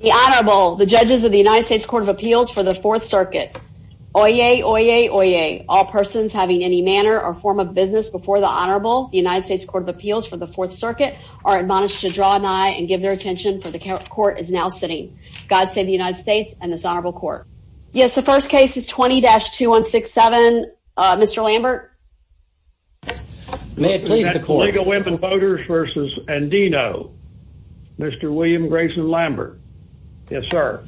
The Honorable, the judges of the United States Court of Appeals for the Fourth Circuit. Oyez, oyez, oyez. All persons having any manner or form of business before the Honorable, the United States Court of Appeals for the Fourth Circuit, are admonished to draw an eye and give their attention, for the court is now sitting. God save the United States and this Honorable Court. Yes, the first case is 20-2167. Mr. Lambert. May it please the court. League of Women Voters v. Andino. Mr. William Grayson Lambert. Yes, sir.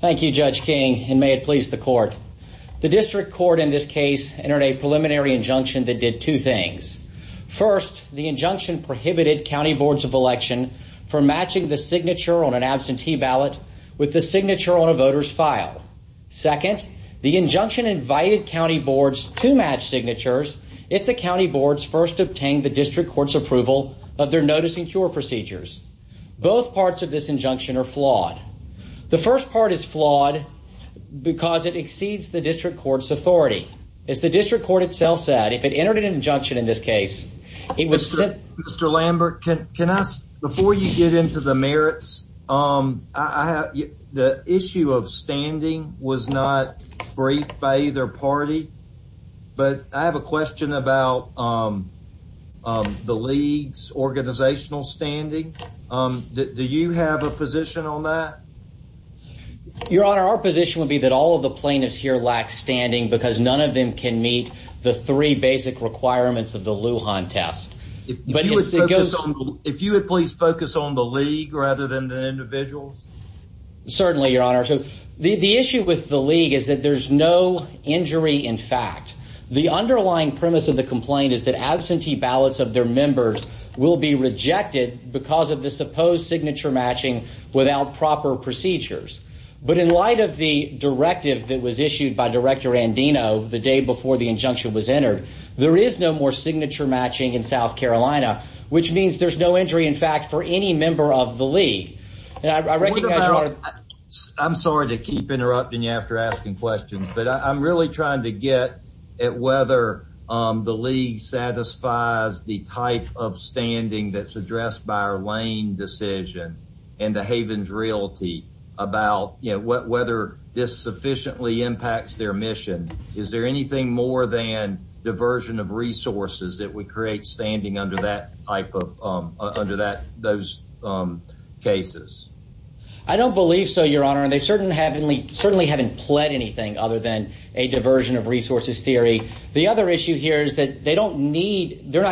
Thank you, Judge King, and may it please the court. The district court in this case entered a preliminary injunction that did two things. First, the injunction prohibited county boards of election from matching the signature on an absentee ballot with the signature on a voter's file. Second, the injunction invited county boards to match signatures if the county boards first obtained the district court's approval of their notice and cure procedures. Both parts of this injunction are flawed. The first part is flawed because it exceeds the district court's authority. As the district court itself said, if it entered an injunction in this case, it was sent. Mr. Lambert, can I ask, before you get into the merits, the issue of standing was not briefed by either party. But I have a question about the league's organizational standing. Do you have a position on that? Your Honor, our position would be that all of the plaintiffs here lack standing because none of them can meet the three basic requirements of the Lujan test. If you would please focus on the league rather than the individuals. Certainly, Your Honor. The issue with the league is that there's no injury in fact. The underlying premise of the complaint is that absentee ballots of their members will be rejected because of the supposed signature matching without proper procedures. But in light of the directive that was issued by Director Andino the day before the injunction was entered, there is no more signature matching in South Carolina, which means there's no injury in fact for any member of the league. I'm sorry to keep interrupting you after asking questions, but I'm really trying to get at whether the league satisfies the type of standing that's addressed by our lane decision and the Havens Realty about whether this sufficiently impacts their mission. Is there anything more than diversion of resources that would create standing under those cases? I don't believe so, Your Honor, and they certainly haven't pled anything other than a diversion of resources theory. The other issue here is that they're not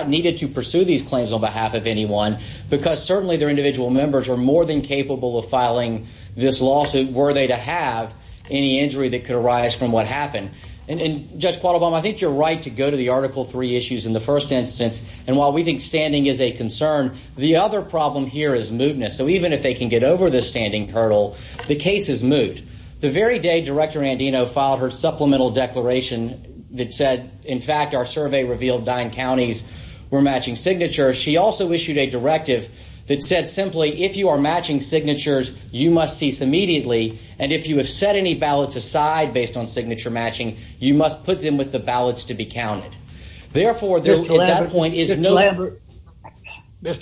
needed to pursue these claims on behalf of anyone because certainly their individual members are more than capable of filing this lawsuit were they to have any injury that could arise from what happened. And Judge Qualabong, I think you're right to go to the Article 3 issues in the first instance. And while we think standing is a concern, the other problem here is mootness. So even if they can get over the standing hurdle, the case is moot. The very day Director Andino filed her supplemental declaration that said, in fact, our survey revealed nine counties were matching signatures, she also issued a directive that said simply, if you are matching signatures, you must cease immediately. And if you have set any ballots aside based on signature matching, you must put them with the ballots to be counted. Therefore, at that point, there is no... Mr.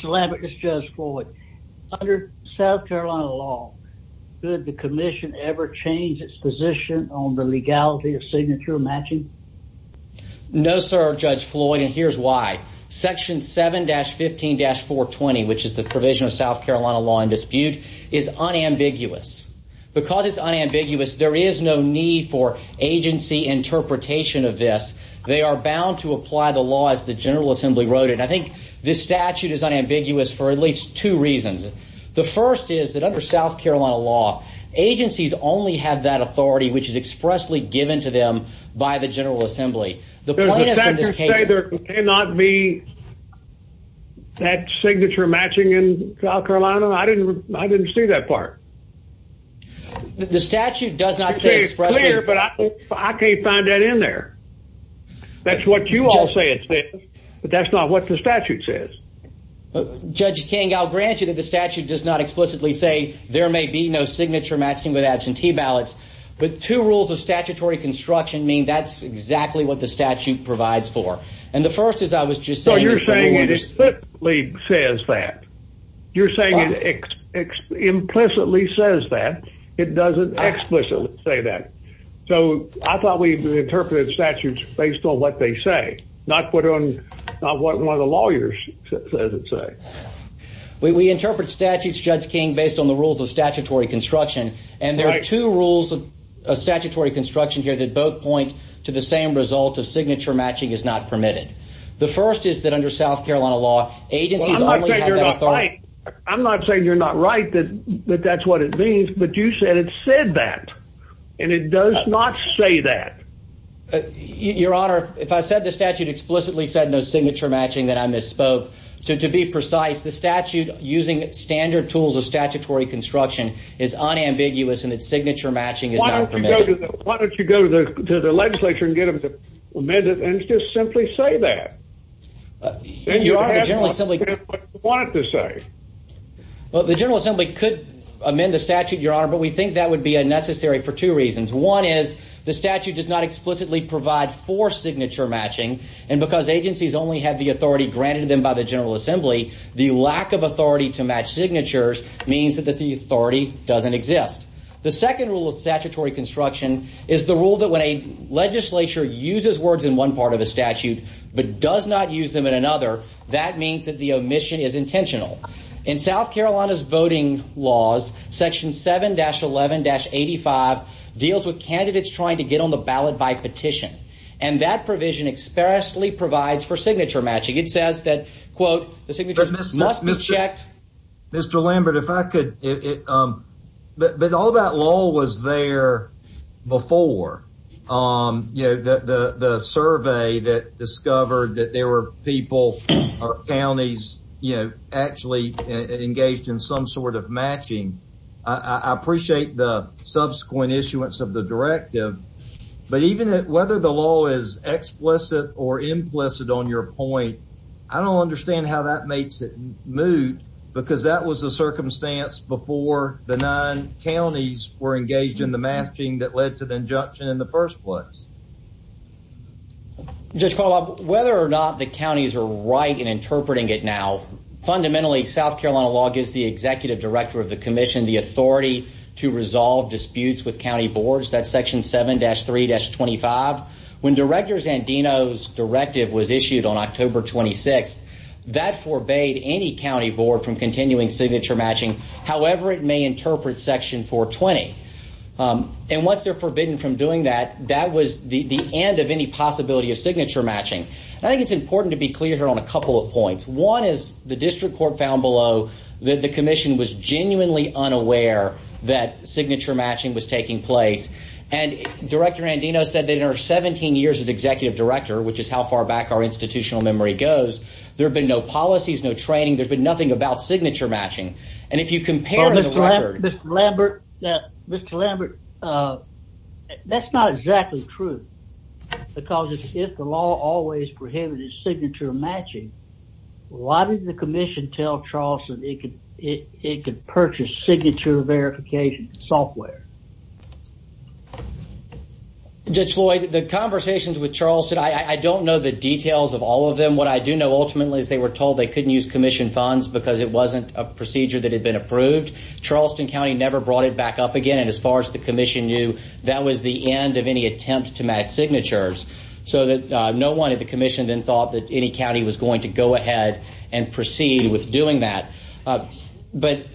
Lambert, this is Judge Floyd. Under South Carolina law, did the commission ever change its position on the legality of signature matching? No, sir, Judge Floyd, and here's why. Section 7-15-420, which is the provision of South Carolina law in dispute, is unambiguous. Because it's unambiguous, there is no need for agency interpretation of this. They are bound to apply the law as the General Assembly wrote it. I think this statute is unambiguous for at least two reasons. The first is that under South Carolina law, agencies only have that authority which is expressly given to them by the General Assembly. The plaintiffs in this case... The statute says there cannot be that signature matching in South Carolina. I didn't see that part. The statute does not say expressly... It's clear, but I can't find that in there. That's what you all say it says, but that's not what the statute says. Judge King, I'll grant you that the statute does not explicitly say there may be no signature matching with absentee ballots, but two rules of statutory construction mean that's exactly what the statute provides for. And the first is I was just saying... No, you're saying it explicitly says that. You're saying it implicitly says that. It doesn't explicitly say that. So I thought we interpreted statutes based on what they say, not what one of the lawyers says it says. We interpret statutes, Judge King, based on the rules of statutory construction, and there are two rules of statutory construction here that both point to the same result of signature matching is not permitted. The first is that under South Carolina law, agencies only have that authority... I'm not saying you're not right that that's what it means, but you said it said that, and it does not say that. Your Honor, if I said the statute explicitly said no signature matching, then I misspoke. To be precise, the statute using standard tools of statutory construction is unambiguous in that signature matching is not permitted. Why don't you go to the legislature and get them to amend it and just simply say that? Your Honor, the General Assembly... That's what they wanted to say. Well, the General Assembly could amend the statute, Your Honor, but we think that would be unnecessary for two reasons. One is the statute does not explicitly provide for signature matching, and because agencies only have the authority granted to them by the General Assembly, the lack of authority to match signatures means that the authority doesn't exist. The second rule of statutory construction is the rule that when a legislature uses words in one part of a statute but does not use them in another, that means that the omission is intentional. In South Carolina's voting laws, Section 7-11-85 deals with candidates trying to get on the ballot by petition, and that provision expressly provides for signature matching. It says that, quote, the signature must be checked. Mr. Lambert, if I could, but all that lull was there before. You know, the survey that discovered that there were people or counties, you know, actually engaged in some sort of matching. I appreciate the subsequent issuance of the directive, but even whether the law is explicit or implicit on your point, I don't understand how that makes it moot, because that was the circumstance before the nine counties were engaged in the matching that led to the injunction in the first place. Judge Caldwell, whether or not the counties are right in interpreting it now, fundamentally, South Carolina law gives the executive director of the commission the authority to resolve disputes with county boards. That's Section 7-3-25. When Director Zandino's directive was issued on October 26th, that forbade any county board from continuing signature matching, however it may interpret Section 4-20. And once they're forbidden from doing that, that was the end of any possibility of signature matching. I think it's important to be clear here on a couple of points. One is the district court found below that the commission was genuinely unaware that signature matching was taking place, and Director Zandino said that in her 17 years as executive director, which is how far back our institutional memory goes, there have been no policies, no training, there's been nothing about signature matching. And if you compare to the record... Mr. Lambert, that's not exactly true, because if the law always prohibited signature matching, why didn't the commission tell Charleston it could purchase signature verification software? Judge Floyd, the conversations with Charleston, I don't know the details of all of them. What I do know ultimately is they were told they couldn't use commission funds because it wasn't a procedure that had been approved. Charleston County never brought it back up again, and as far as the commission knew, that was the end of any attempt to match signatures. So no one at the commission then thought that any county was going to go ahead and proceed with doing that. But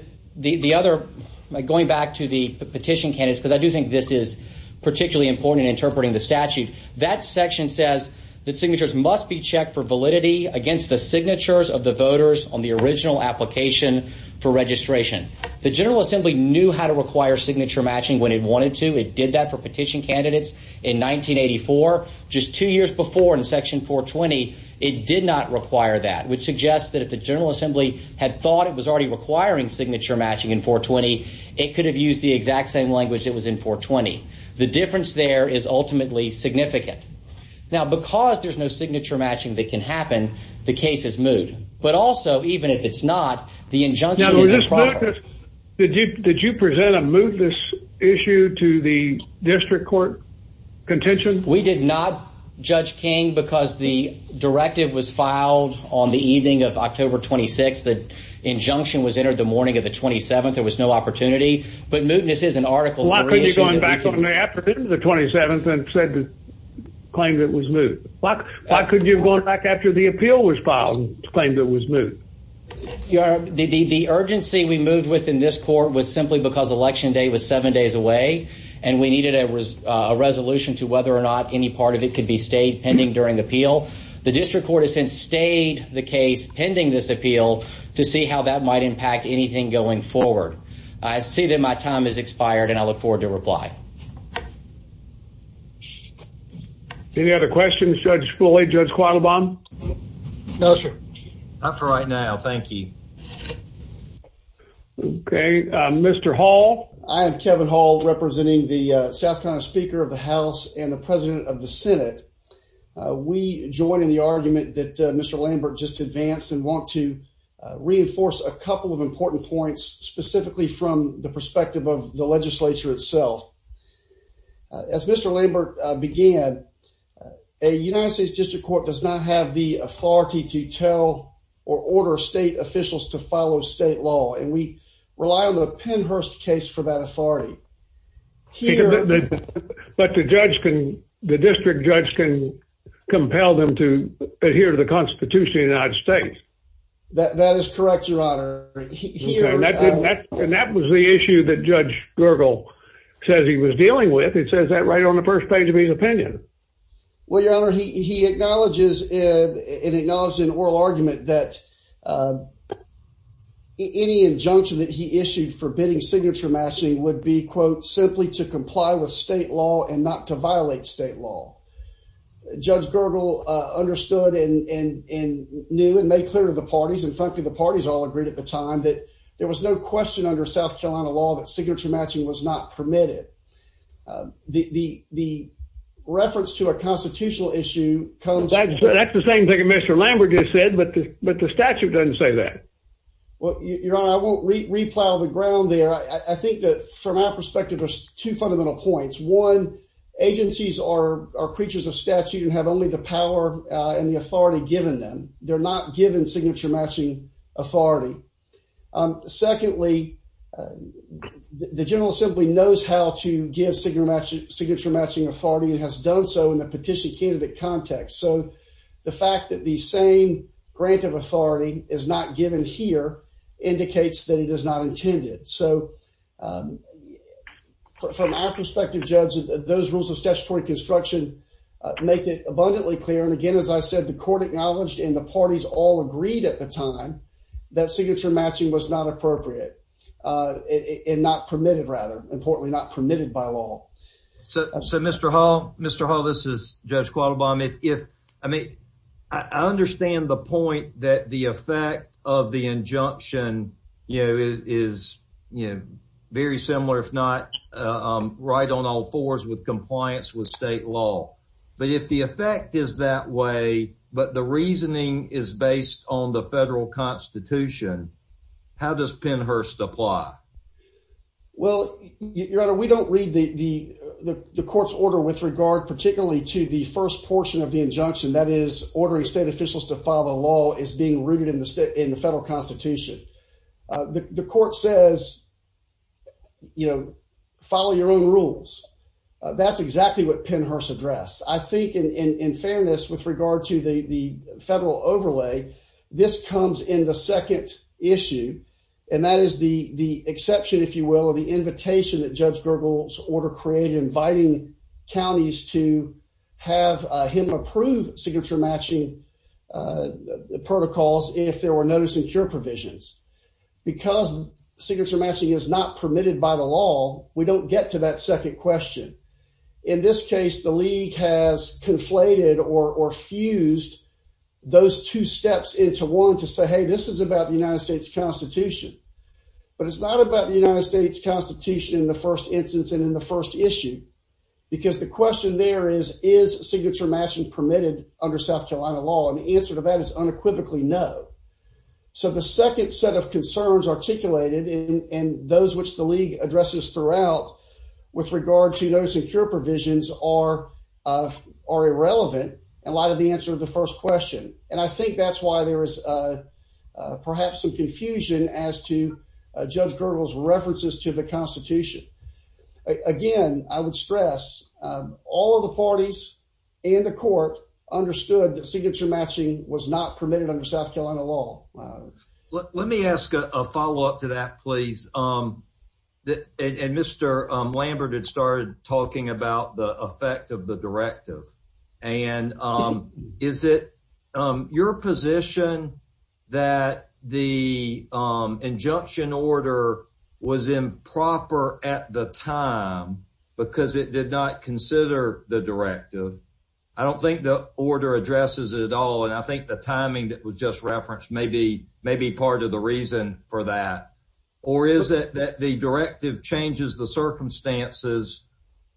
going back to the petition candidates, because I do think this is particularly important in interpreting the statute, that section says that signatures must be checked for validity against the signatures of the voters on the original application for registration. The General Assembly knew how to require signature matching when it wanted to. It did that for petition candidates in 1984. Just two years before, in section 420, it did not require that, which suggests that if the General Assembly had thought it was already requiring signature matching in 420, it could have used the exact same language that was in 420. The difference there is ultimately significant. Now, because there's no signature matching that can happen, the case is moved. But also, even if it's not, the injunction is improper. Did you present a mootness issue to the district court contention? We did not, Judge King, because the directive was filed on the evening of October 26th. The injunction was entered the morning of the 27th. There was no opportunity. But mootness is an Article 3 issue. Why couldn't you have gone back on the afternoon of the 27th and claimed it was moot? Why couldn't you have gone back after the appeal was filed and claimed it was moot? The urgency we moved with in this court was simply because election day was seven days away, and we needed a resolution to whether or not any part of it could be stayed pending during appeal. The district court has since stayed the case pending this appeal to see how that might impact anything going forward. I see that my time has expired, and I look forward to reply. Any other questions, Judge Foley, Judge Quattlebaum? No, sir. Not for right now. Thank you. Okay. Mr. Hall? I am Kevin Hall, representing the South Carolina Speaker of the House and the President of the Senate. We join in the argument that Mr. Lambert just advanced and want to reinforce a couple of important points, specifically from the perspective of the legislature itself. As Mr. Lambert began, a United States district court does not have the authority to tell or order state officials to follow state law, and we rely on the Pennhurst case for that authority. But the district judge can compel them to adhere to the Constitution of the United States. That is correct, Your Honor. And that was the issue that Judge Gergel says he was dealing with. It says that right on the first page of his opinion. Well, Your Honor, he acknowledges and acknowledged in oral argument that any injunction that he issued for bidding signature matching would be, quote, simply to comply with state law and not to violate state law. Judge Gergel understood and knew and made clear to the parties, and frankly, the parties all agreed at the time, that there was no question under South Carolina law that signature matching was not permitted. The reference to a constitutional issue comes... That's the same thing that Mr. Lambert just said, but the statute doesn't say that. Well, Your Honor, I won't replow the ground there. I think that from our perspective, there's two fundamental points. One, agencies are creatures of statute and have only the power and the authority given them. They're not given signature matching authority. Secondly, the general simply knows how to give signature matching authority and has done so in the petition candidate context. So the fact that the same grant of authority is not given here indicates that it is not intended. So from our perspective, Judge, those rules of statutory construction make it abundantly clear. And again, as I said, the court acknowledged and the parties all agreed at the time that signature matching was not appropriate and not permitted, rather. Importantly, not permitted by law. So Mr. Hall, Mr. Hall, this is Judge Quattlebaum. I understand the point that the effect of the injunction is very similar, if not right on all fours with compliance with state law. But if the effect is that way, but the reasoning is based on the federal constitution, how does Pennhurst apply? Well, Your Honor, we don't read the court's order with regard particularly to the first portion of the injunction, that is ordering state officials to file a law as being rooted in the federal constitution. The court says, you know, follow your own rules. That's exactly what Pennhurst addressed. I think in fairness with regard to the federal overlay, this comes in the second issue, and that is the exception, if you will, of the invitation that Judge Gergel's order created, inviting counties to have him approve signature matching protocols if there were no secure provisions. Because signature matching is not permitted by the law, we don't get to that second question. In this case, the league has conflated or fused those two steps into one to say, hey, this is about the United States Constitution. But it's not about the United States Constitution in the first instance and in the first issue, because the question there is, is signature matching permitted under South Carolina law? And the answer to that is unequivocally no. So the second set of concerns articulated and those which the league addresses throughout with regard to those secure provisions are irrelevant in light of the answer to the first question. And I think that's why there is perhaps some confusion as to Judge Gergel's references to the Constitution. Again, I would stress all of the parties in the court understood that signature matching was not permitted under South Carolina law. Let me ask a follow up to that, please. And Mr. Lambert had started talking about the effect of the directive. And is it your position that the injunction order was improper at the time because it did not consider the directive? I don't think the order addresses it at all. And I think the timing that was just referenced may be part of the reason for that. Or is it that the directive changes the circumstances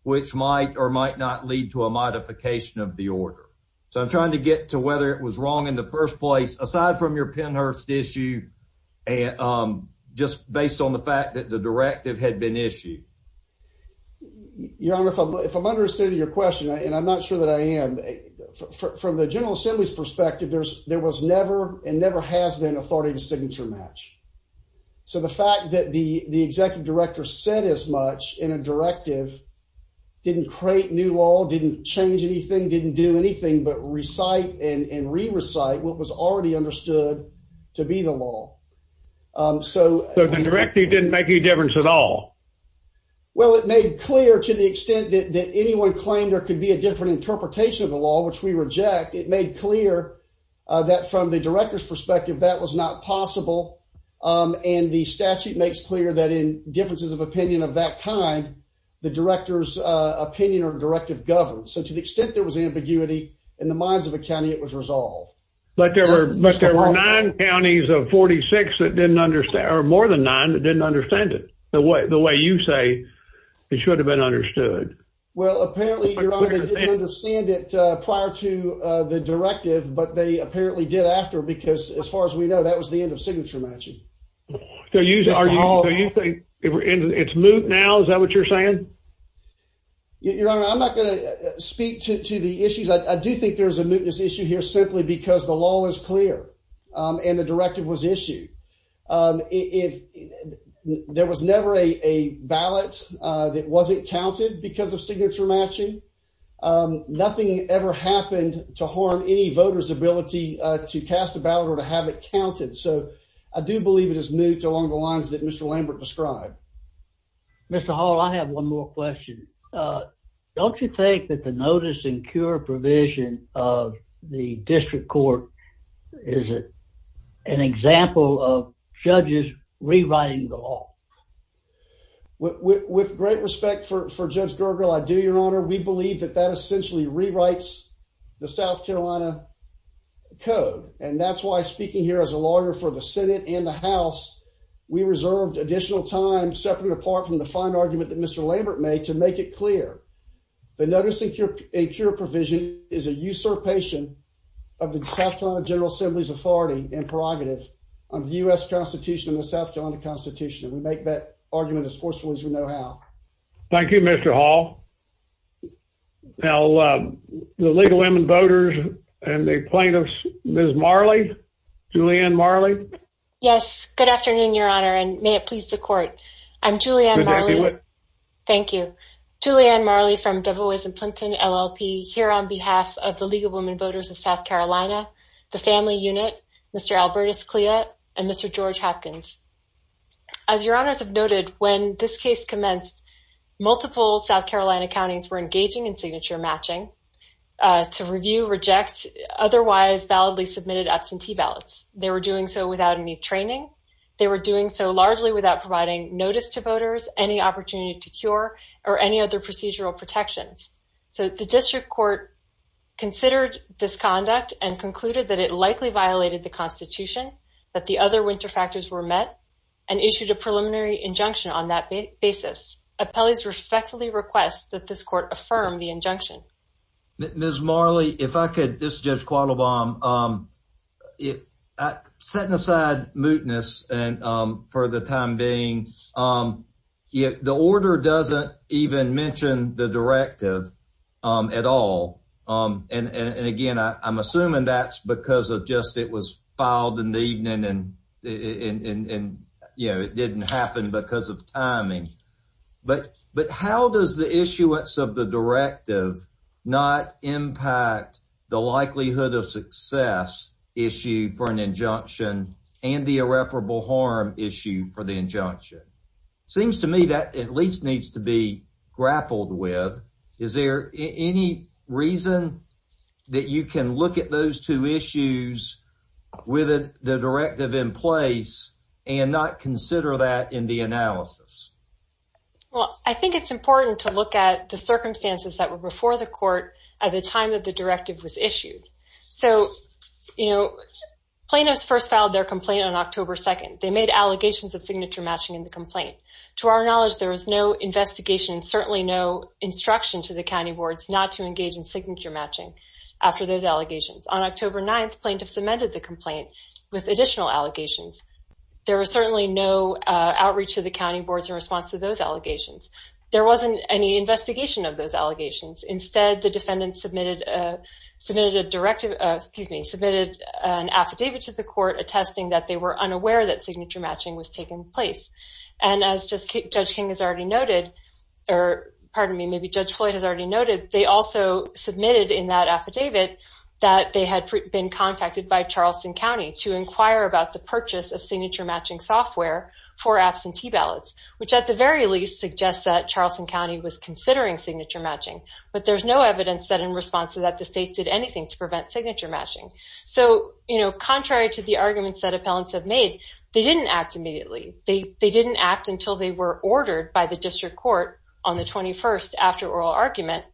which might or might not lead to a modification of the order? So I'm trying to get to whether it was wrong in the first place, aside from your Pennhurst issue, just based on the fact that the directive had been issued. Your Honor, if I'm understood your question, and I'm not sure that I am, from the General Assembly's perspective, there was never and never has been authority to signature match. So the fact that the executive director said as much in a directive didn't create new law, didn't change anything, didn't do anything, but recite and re-recite what was already understood to be the law. So the directive didn't make any difference at all? Well, it made clear to the extent that anyone claimed there could be a different interpretation of the law, which we reject, it made clear that from the director's perspective that was not possible. And the statute makes clear that in differences of opinion of that kind, the director's opinion or directive governs. So to the extent there was ambiguity in the minds of the county, it was resolved. But there were nine counties of 46 that didn't understand, or more than nine that didn't understand it the way you say it should have been understood. Well, apparently, Your Honor, they didn't understand it prior to the directive, but they apparently did after, because as far as we know, that was the end of signature matching. So you think it's moot now? Is that what you're saying? Your Honor, I'm not going to speak to the issues. I do think there's a mootness issue here simply because the law was clear and the directive was issued. There was never a ballot that wasn't counted because of signature matching. Nothing ever happened to harm any voter's ability to cast a ballot or to have it counted. So I do believe it is moot along the lines that Mr. Lambert described. Mr. Hall, I have one more question. Don't you think that the notice and cure provision of the district court is an example of judges rewriting the law? With great respect for Judge Gergel, I do, Your Honor. We believe that that essentially rewrites the South Carolina code. And that's why speaking here as a lawyer for the Senate and the House, we reserved additional time, separate and apart from the fine argument that Mr. Lambert made, to make it clear. The notice and cure provision is a usurpation of the South Carolina General Assembly's authority and prerogative on the U.S. Constitution and the South Carolina Constitution. And we make that argument as forceful as we know how. Thank you, Mr. Hall. Now, the League of Women Voters and the plaintiffs, Ms. Marley, Julianne Marley. Yes, good afternoon, Your Honor, and may it please the court. I'm Julianne Marley. Thank you. Julianne Marley from Devil Weighs in Plimpton, LLP, here on behalf of the League of Women Voters of South Carolina, the family unit, Mr. Albertus Clea, and Mr. George Hopkins. As Your Honors have noted, when this case commenced, multiple South Carolina counties were engaging in signature matching to review, reject, otherwise validly submitted absentee ballots. They were doing so without any training. They were doing so largely without providing notice to voters, any opportunity to cure, or any other procedural protections. So the district court considered this conduct and concluded that it likely violated the Constitution, that the other winter factors were met, and issued a preliminary injunction on that basis. Appellees respectfully request that this court affirm the injunction. Ms. Marley, if I could, this is Judge Quattlebaum. Setting aside mootness for the time being, the order doesn't even mention the directive at all. And again, I'm assuming that's because it was filed in the evening and it didn't happen because of timing. But how does the issuance of the directive not impact the likelihood of success issue for an injunction and the irreparable harm issue for the injunction? Seems to me that at least needs to be grappled with. Is there any reason that you can look at those two issues with the directive in place and not consider that in the analysis? Well, I think it's important to look at the circumstances that were before the court at the time that the directive was issued. So, you know, Plano's first filed their complaint on October 2nd. They made allegations of signature matching in the complaint. To our knowledge, there was no investigation and certainly no instruction to the county boards not to engage in signature matching after those allegations. On October 9th, Plano submitted the complaint with additional allegations. There was certainly no outreach to the county boards in response to those allegations. There wasn't any investigation of those allegations. Instead, the defendant submitted an affidavit to the court attesting that they were unaware that signature matching was taking place. And as Judge King has already noted, or pardon me, maybe Judge Floyd has already noted, they also submitted in that affidavit that they had been contacted by Charleston County to inquire about the purchase of signature matching software for absentee ballots, which at the very least suggests that Charleston County was considering signature matching. But there's no evidence that in response to that the state did anything to prevent signature matching. So, you know, contrary to the arguments that appellants have made, they didn't act immediately. They didn't act until they were ordered by the district court on the 21st after oral argument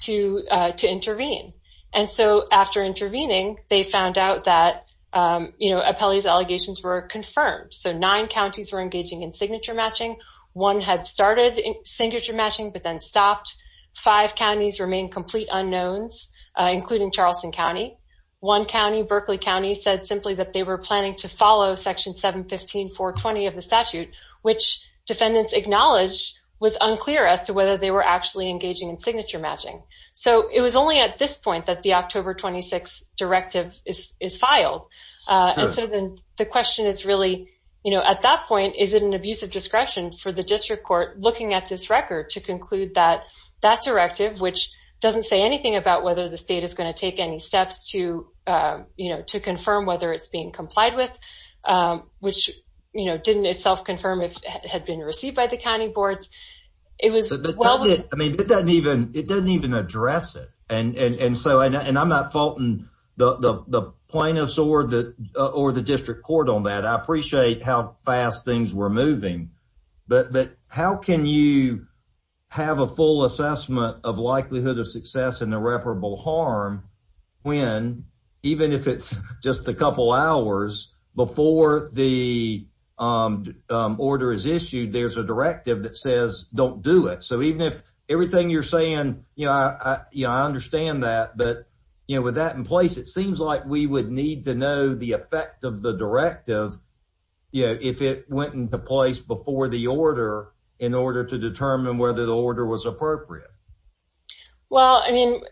to intervene. And so after intervening, they found out that, you know, appellee's allegations were confirmed. So nine counties were engaging in signature matching. One had started signature matching but then stopped. Five counties remained complete unknowns, including Charleston County. One county, Berkeley County, said simply that they were planning to follow Section 715.420 of the statute, which defendants acknowledged was unclear as to whether they were actually engaging in signature matching. So it was only at this point that the October 26 directive is filed. And so then the question is really, you know, at that point, is it an abuse of discretion for the district court looking at this record to conclude that that directive, which doesn't say anything about whether the state is going to take any steps to, you know, to confirm whether it's being complied with, which, you know, didn't itself confirm if it had been received by the county boards. I mean, it doesn't even address it. And so I'm not faulting the plaintiffs or the district court on that. I appreciate how fast things were moving. But how can you have a full assessment of likelihood of success in irreparable harm when, even if it's just a couple hours before the order is issued, there's a directive that says don't do it. So even if everything you're saying, you know, I understand that. But, you know, with that in place, it seems like we would need to know the effect of the directive, you know, if it went into place before the order in order to determine whether the order was appropriate. Well, I mean,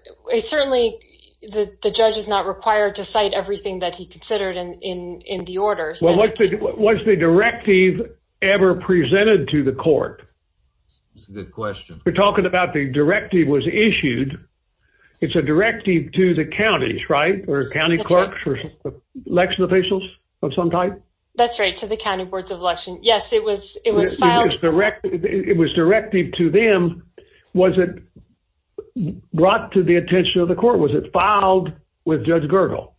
certainly the judge is not required to cite everything that he considered in the order. Was the directive ever presented to the court? That's a good question. We're talking about the directive was issued. It's a directive to the counties, right? Or county clerks or election officials of some type? That's right, to the county boards of election. Yes, it was filed. It was directive to them. Was it brought to the attention of the court? Was it filed with Judge Gergel?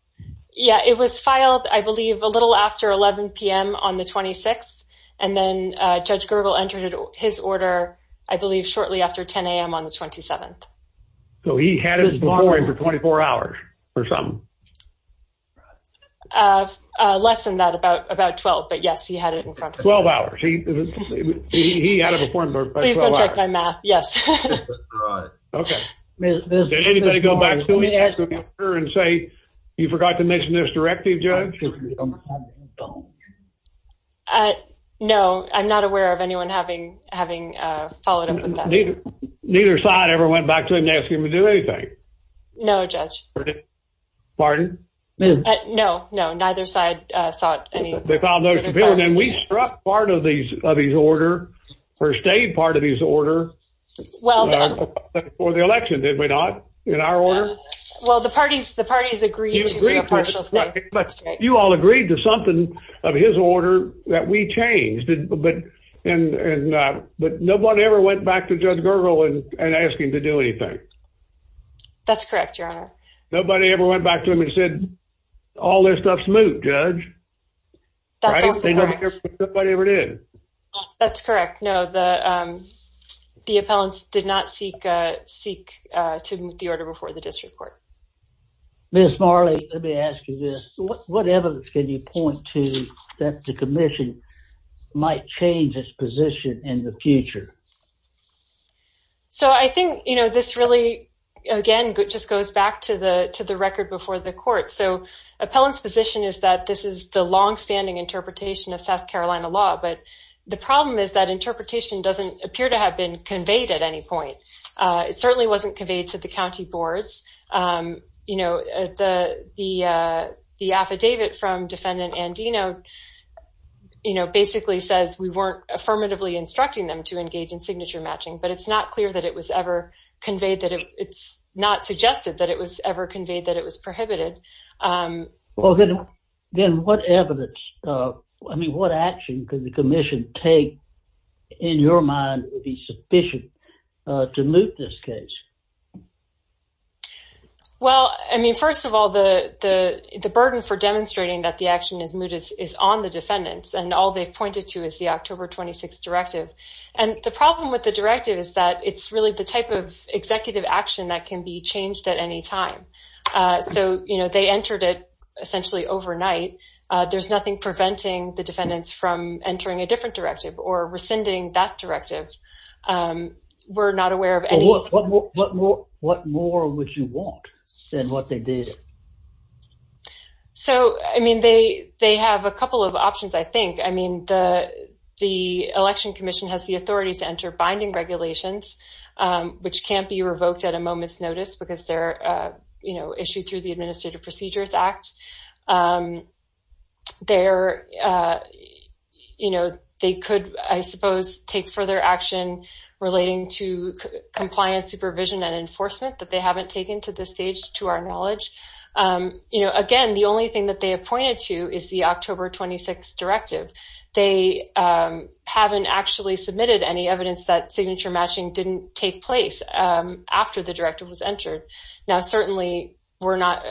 Yeah, it was filed, I believe, a little after 11 p.m. on the 26th. And then Judge Gergel entered his order, I believe, shortly after 10 a.m. on the 27th. So he had it before him for 24 hours or something? Less than that, about 12. But, yes, he had it in front of him. Twelve hours. He had it before him for 12 hours. Please don't check my math. Yes. Okay. Did anybody go back to him and say, you forgot to mention this directive, Judge? No, I'm not aware of anyone having followed up with that. Neither side ever went back to him and asked him to do anything? No, Judge. Pardon? No, no. Neither side saw it. They found no disappearance. And we struck part of his order or stayed part of his order before the election, did we not, in our order? Well, the parties agreed to be a partial state. But you all agreed to something of his order that we changed. But no one ever went back to Judge Gergel and asked him to do anything? That's correct, Your Honor. Nobody ever went back to him and said, all this stuff's moot, Judge. That's also correct. Right? Nobody ever did. That's correct. No, the appellants did not seek to move the order before the district court. Ms. Marley, let me ask you this. What evidence can you point to that the commission might change its position in the future? So I think, you know, this really, again, just goes back to the record before the court. So appellants' position is that this is the longstanding interpretation of South Carolina law. But the problem is that interpretation doesn't appear to have been conveyed at any point. It certainly wasn't conveyed to the county boards. You know, the affidavit from Defendant Andino, you know, basically says we weren't affirmatively instructing them to engage in signature matching. But it's not clear that it was ever conveyed. It's not suggested that it was ever conveyed that it was prohibited. Well, then what evidence, I mean, what action could the commission take, in your mind, that would be sufficient to moot this case? Well, I mean, first of all, the burden for demonstrating that the action is moot is on the defendants. And all they've pointed to is the October 26 directive. And the problem with the directive is that it's really the type of executive action that can be changed at any time. So, you know, they entered it essentially overnight. There's nothing preventing the defendants from entering a different directive or rescinding that directive. We're not aware of any. What more would you want than what they did? So, I mean, they have a couple of options, I think. I mean, the Election Commission has the authority to enter binding regulations, which can't be revoked at a moment's notice because they're, you know, they could, I suppose, take further action relating to compliance, supervision, and enforcement that they haven't taken to this stage, to our knowledge. You know, again, the only thing that they have pointed to is the October 26 directive. They haven't actually submitted any evidence that signature matching didn't take place after the directive was entered. Now, certainly, we're not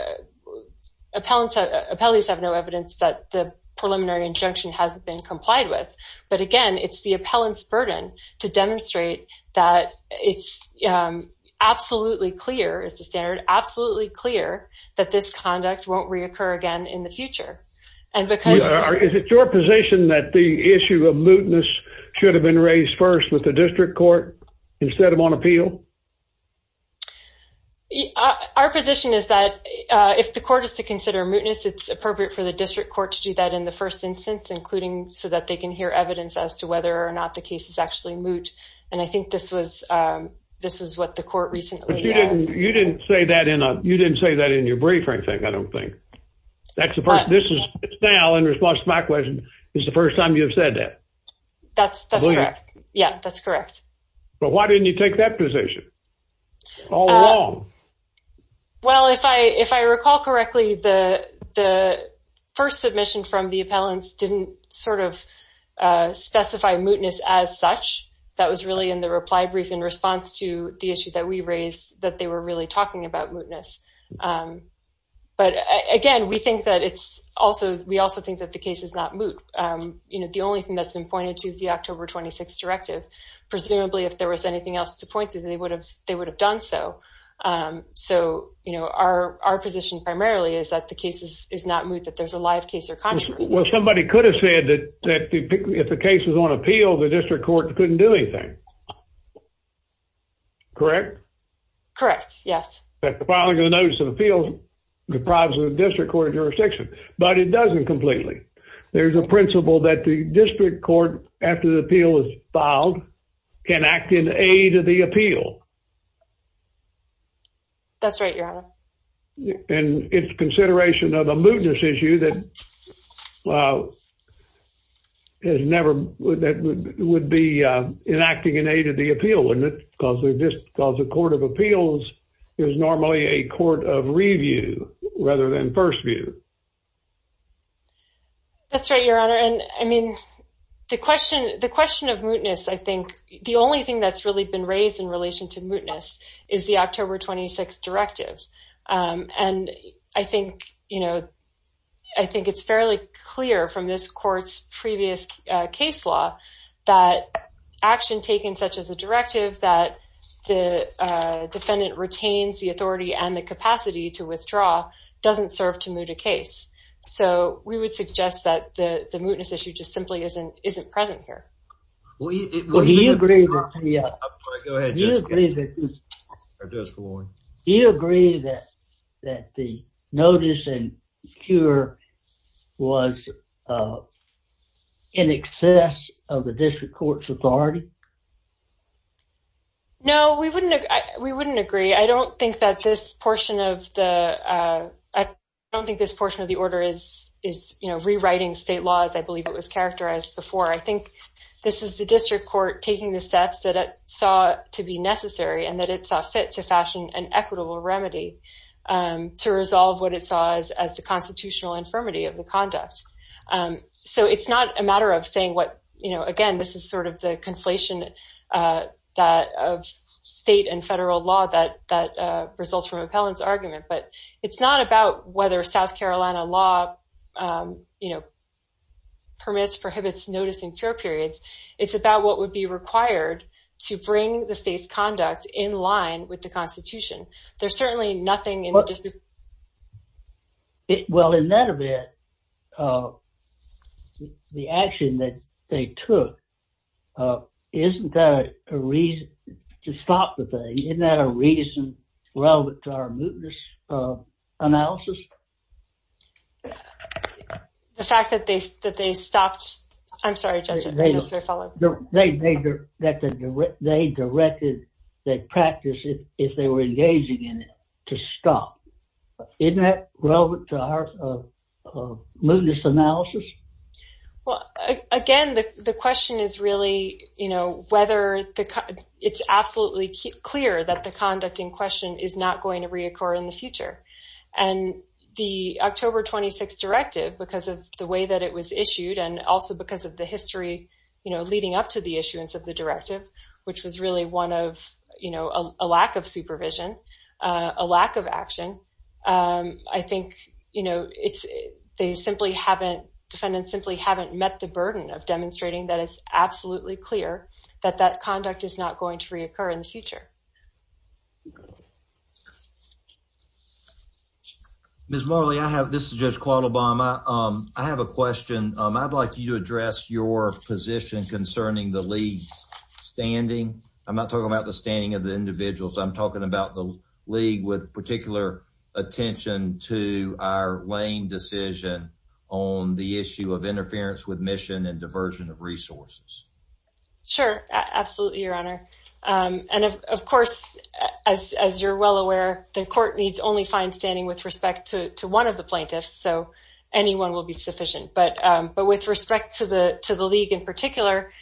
– appellants have no evidence that the preliminary injunction hasn't been complied with. But, again, it's the appellant's burden to demonstrate that it's absolutely clear, as the standard, absolutely clear that this conduct won't reoccur again in the future. And because – Is it your position that the issue of lewdness should have been raised first with the district court instead of on appeal? Our position is that if the court is to consider lewdness, it's appropriate for the district court to do that in the first instance, including so that they can hear evidence as to whether or not the case is actually lewd. And I think this was what the court recently – But you didn't say that in a – you didn't say that in your briefing, I think, I don't think. That's the first – this is – it's now, in response to my question, this is the first time you've said that. That's correct. Yeah, that's correct. But why didn't you take that position all along? Well, if I recall correctly, the first submission from the appellants didn't sort of specify lewdness as such. That was really in the reply brief in response to the issue that we raised, that they were really talking about lewdness. But, again, we think that it's also – we also think that the case is not lewd. You know, the only thing that's been pointed to is the October 26 directive. Presumably, if there was anything else to point to, they would have done so. So, you know, our position primarily is that the case is not lewd, that there's a live case or controversy. Well, somebody could have said that if the case was on appeal, the district court couldn't do anything. Correct? Correct, yes. Filing a notice of appeals deprives the district court of jurisdiction. But it doesn't completely. There's a principle that the district court, after the appeal is filed, can act in aid of the appeal. That's right, Your Honor. And it's consideration of a lewdness issue that has never – that would be in acting in aid of the appeal, wouldn't it? Because the court of appeals is normally a court of review rather than first view. That's right, Your Honor. And, I mean, the question of lewdness, I think, the only thing that's really been raised in relation to lewdness is the October 26 directive. And I think, you know, I think it's fairly clear from this court's previous case law that action taken such as a directive, that the defendant retains the authority and the capacity to withdraw, doesn't serve to moot a case. So we would suggest that the lewdness issue just simply isn't present here. Well, do you agree that the notice and cure was in excess of the district court's authority? No, we wouldn't agree. I don't think that this portion of the – I don't think this portion of the order is, you know, rewriting state laws. I believe it was characterized before. I think this is the district court taking the steps that it saw to be necessary and that it saw fit to fashion an equitable remedy to resolve what it saw as the constitutional infirmity of the conduct. So it's not a matter of saying what – you know, again, this is sort of the conflation of state and federal law that results from appellant's argument. But it's not about whether South Carolina law, you know, permits, prohibits notice and cure periods. It's about what would be required to bring the state's conduct in line with the Constitution. There's certainly nothing in the district – Well, in that event, the action that they took, isn't that a reason to stop the thing? Isn't that a reason relevant to our mootness analysis? The fact that they stopped – I'm sorry, Judge, I don't know if you were following. They directed that practice, if they were engaging in it, to stop. Isn't that relevant to our mootness analysis? Well, again, the question is really, you know, whether – it's absolutely clear that the conduct in question is not going to reoccur in the future. And the October 26 directive, because of the way that it was issued and also because of the history, you know, leading up to the issuance of the directive, which was really one of, you know, a lack of supervision, a lack of action, I think, you know, it's – they simply haven't – defendants simply haven't met the burden of demonstrating that it's absolutely clear that that conduct is not going to reoccur in the future. Ms. Morley, I have – this is Judge Quadlobama. I have a question. I'd like you to address your position concerning the league's standing. I'm not talking about the standing of the individuals. I'm talking about the league with particular attention to our lane decision on the issue of interference with mission and diversion of resources. Sure. Absolutely, Your Honor. And, of course, as you're well aware, the court needs only find standing with respect to one of the plaintiffs, so anyone will be sufficient. But with respect to the league in particular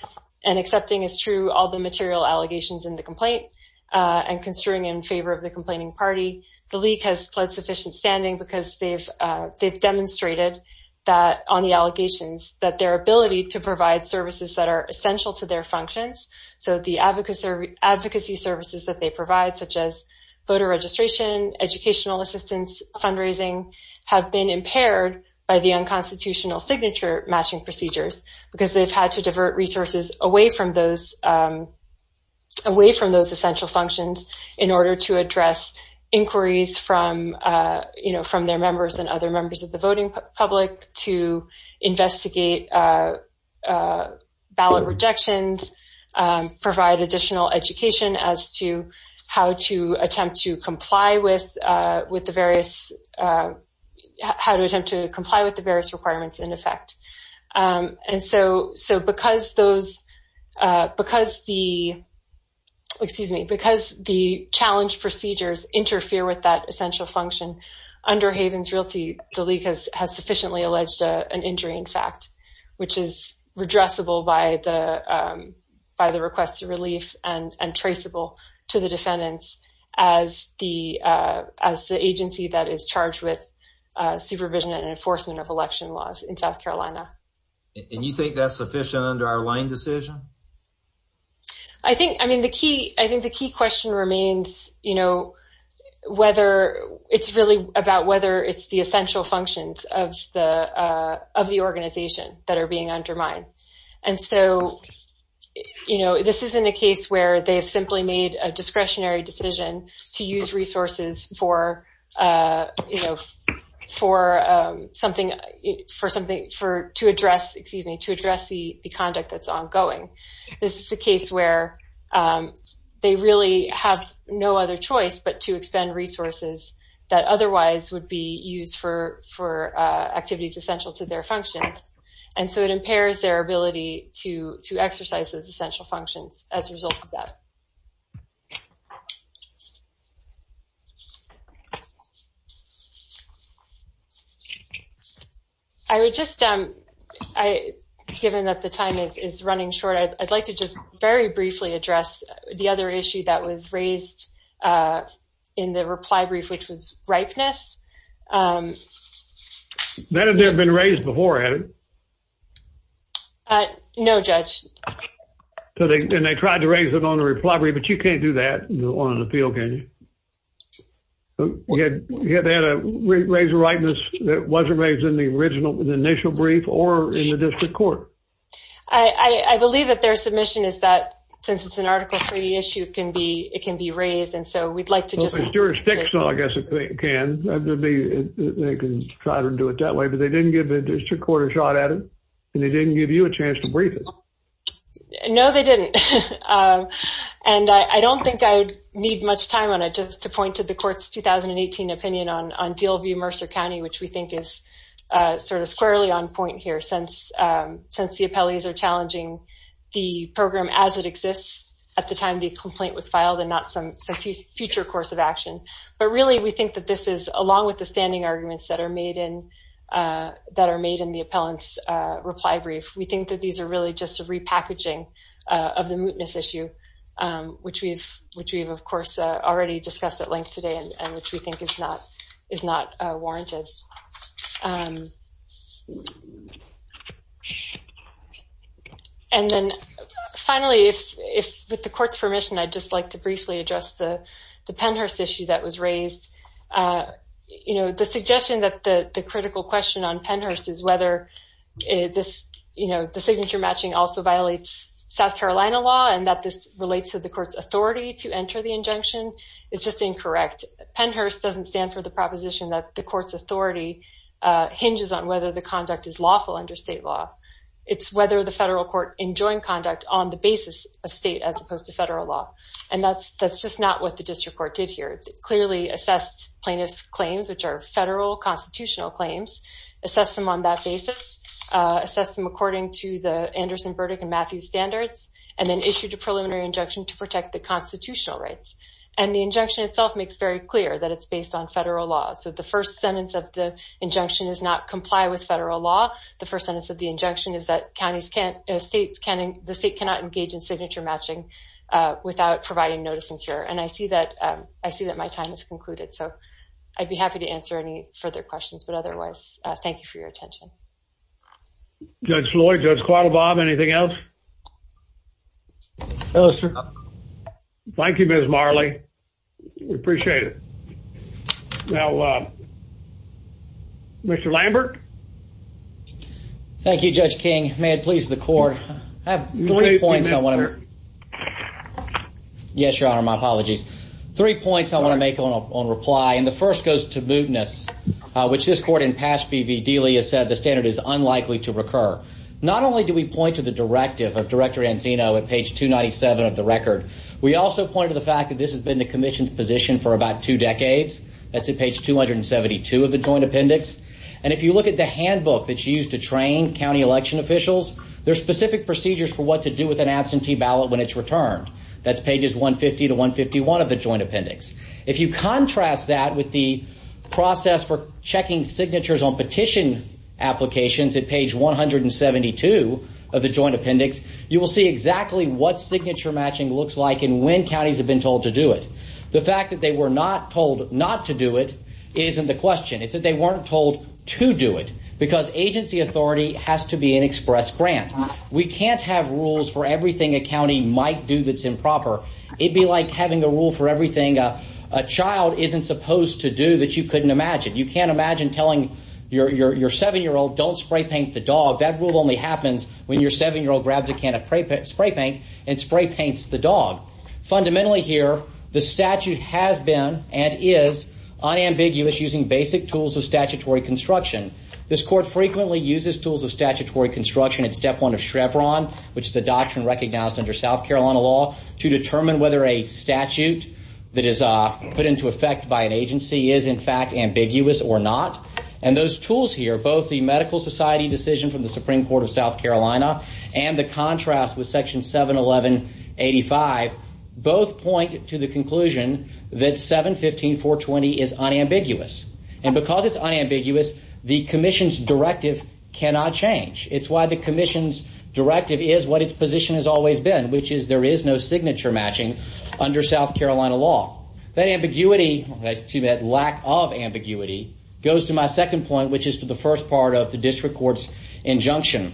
and accepting as true all the material allegations in the complaint and construing in favor of the complaining party, the league has pled sufficient standing because they've demonstrated that on the allegations that their ability to provide services that are essential to their functions, so the advocacy services that they provide, such as voter registration, educational assistance, fundraising, have been impaired by the unconstitutional signature-matching procedures because they've had to divert resources away from those essential functions in order to address inquiries from their members and other members of the voting public to investigate ballot rejections, provide additional education as to how to attempt to comply with the various requirements in effect. And so because the challenge procedures interfere with that essential function, under Havens Realty, the league has sufficiently alleged an injury, in fact, which is redressable by the request of relief and traceable to the defendants as the agency that is charged with supervision and enforcement of election laws in South Carolina. And you think that's sufficient under our Lane decision? I think the key question remains whether it's really about whether it's the essential functions of the organization that are being undermined. And so this isn't a case where they've simply made a discretionary decision to use resources to address the conduct that's ongoing. This is a case where they really have no other choice but to expend resources that otherwise would be used for activities essential to their functions. And so it impairs their ability to exercise those essential functions as a result of that. I would just, given that the time is running short, I'd like to just very briefly address the other issue that was raised in the reply brief, which was ripeness. That had never been raised before, had it? No, Judge. And they tried to raise it on the reply brief, but you can't do that on an appeal, can you? They had to raise a ripeness that wasn't raised in the initial brief or in the district court. I believe that their submission is that since it's an Article III issue, it can be raised, and so we'd like to just... Well, it's not, I guess, it can. They can try to do it that way, but they didn't give the district court a shot at it, and they didn't give you a chance to brief it. No, they didn't. And I don't think I'd need much time on it just to point to the court's 2018 opinion on Dealview-Mercer County, which we think is sort of squarely on point here, since the appellees are challenging the program as it exists at the time the complaint was filed and not some future course of action. But really, we think that this is, along with the standing arguments that are made in the appellant's reply brief, we think that these are really just a repackaging of the mootness issue, which we've, of course, already discussed at length today and which we think is not warranted. And then finally, with the court's permission, I'd just like to briefly address the Pennhurst issue that was raised. The suggestion that the critical question on Pennhurst is whether the signature matching also violates South Carolina law and that this relates to the court's authority to enter the injunction is just incorrect. Pennhurst doesn't stand for the proposition that the court's authority hinges on whether the conduct is lawful under state law. It's whether the federal court enjoined conduct on the basis of state as opposed to federal law. And that's just not what the district court did here. It clearly assessed plaintiff's claims, which are federal constitutional claims, assessed them on that basis, assessed them according to the Anderson verdict and Matthews standards, and then issued a preliminary injunction to protect the constitutional rights. And the injunction itself makes very clear that it's based on federal law. So the first sentence of the injunction is not comply with federal law. The first sentence of the injunction is that the state cannot engage in signature matching without providing notice and cure. And I see that my time has concluded, so I'd be happy to answer any further questions. But otherwise, thank you for your attention. Judge Floyd, Judge Quattle, Bob, anything else? No, sir. Thank you, Ms. Marley. We appreciate it. Now, Mr. Lambert. Thank you, Judge King. May it please the court. I have three points I want to make. Yes, Your Honor, my apologies. Three points I want to make on reply. And the first goes to mootness, which this court in Pasch v. Dealey has said the standard is unlikely to recur. Not only do we point to the directive of Director Anzino at page 297 of the record, we also point to the fact that this has been the commission's position for about two decades. That's at page 272 of the joint appendix. And if you look at the handbook that's used to train county election officials, there's specific procedures for what to do with an absentee ballot when it's returned. That's pages 150 to 151 of the joint appendix. If you contrast that with the process for checking signatures on petition applications at page 172 of the joint appendix, you will see exactly what signature matching looks like and when counties have been told to do it. The fact that they were not told not to do it isn't the question. It's that they weren't told to do it because agency authority has to be an express grant. We can't have rules for everything a county might do that's improper. It'd be like having a rule for everything a child isn't supposed to do that you couldn't imagine. You can't imagine telling your 7-year-old don't spray paint the dog. That rule only happens when your 7-year-old grabs a can of spray paint and spray paints the dog. Fundamentally here, the statute has been and is unambiguous using basic tools of statutory construction. This court frequently uses tools of statutory construction at step one of Chevron, which is a doctrine recognized under South Carolina law, to determine whether a statute that is put into effect by an agency is in fact ambiguous or not. And those tools here, both the Medical Society decision from the Supreme Court of South Carolina and the contrast with Section 71185, both point to the conclusion that 715.420 is unambiguous. And because it's unambiguous, the commission's directive cannot change. It's why the commission's directive is what its position has always been, which is there is no signature matching under South Carolina law. That ambiguity, to that lack of ambiguity, goes to my second point, which is to the first part of the district court's injunction.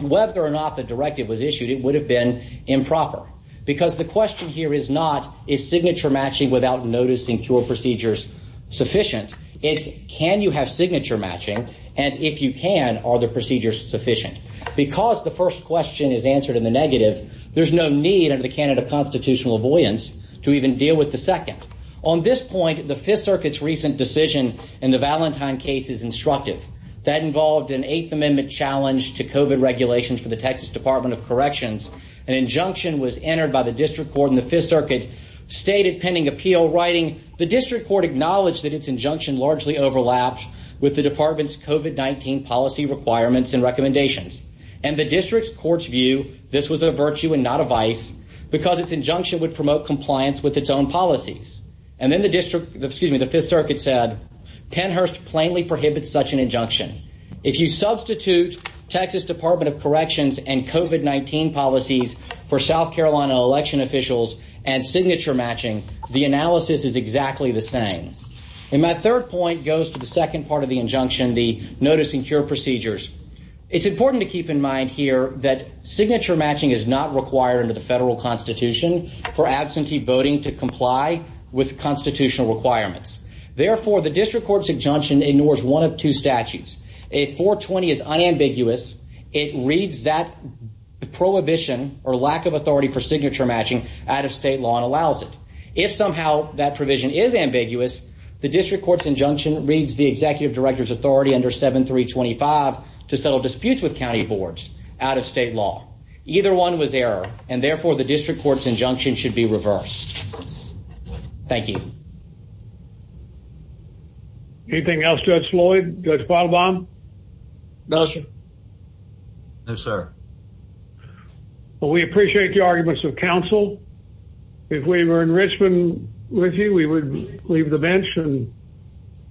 Whether or not the directive was issued, it would have been improper because the question here is not, is signature matching without noticing cure procedures sufficient? It's, can you have signature matching? And if you can, are the procedures sufficient? Because the first question is answered in the negative, there's no need under the Canada constitutional avoidance to even deal with the second. On this point, the Fifth Circuit's recent decision in the Valentine case is instructive. That involved an Eighth Amendment challenge to COVID regulations for the Texas Department of Corrections. An injunction was entered by the district court in the Fifth Circuit, stated pending appeal, writing the district court acknowledged that its injunction largely overlapped with the department's COVID-19 policy requirements and recommendations. And the district's courts view this was a virtue and not a vice because its injunction would promote compliance with its own policies. And then the district, excuse me, the Fifth Circuit said Pennhurst plainly prohibits such an injunction. If you substitute Texas Department of Corrections and COVID-19 policies for South Carolina election officials and signature matching, the analysis is exactly the same. And my third point goes to the second part of the injunction, the noticing cure procedures. It's important to keep in mind here that signature matching is not required under the federal constitution for absentee voting to comply with constitutional requirements. Therefore, the district court's injunction ignores one of two statutes. If 420 is unambiguous, it reads that prohibition or lack of authority for signature matching out of state law and allows it. If somehow that provision is ambiguous, the district court's injunction reads the executive director's authority under 7325 to settle disputes with county boards out of state law. Either one was error, and therefore the district court's injunction should be reversed. Thank you. Anything else, Judge Floyd, Judge Bottlebaum? No, sir. No, sir. Well, we appreciate the arguments of counsel. If we were in Richmond with you, we would leave the bench and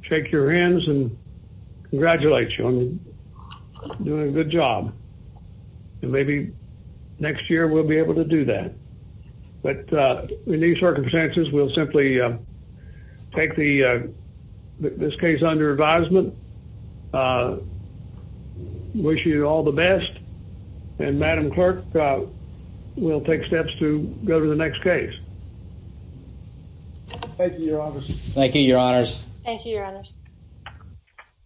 shake your hands and congratulate you on doing a good job. And maybe next year we'll be able to do that. But in these circumstances, we'll simply take this case under advisement. Wish you all the best. And Madam Clerk, we'll take steps to go to the next case. Thank you, Your Honors. Thank you, Your Honors. Thank you, Your Honors.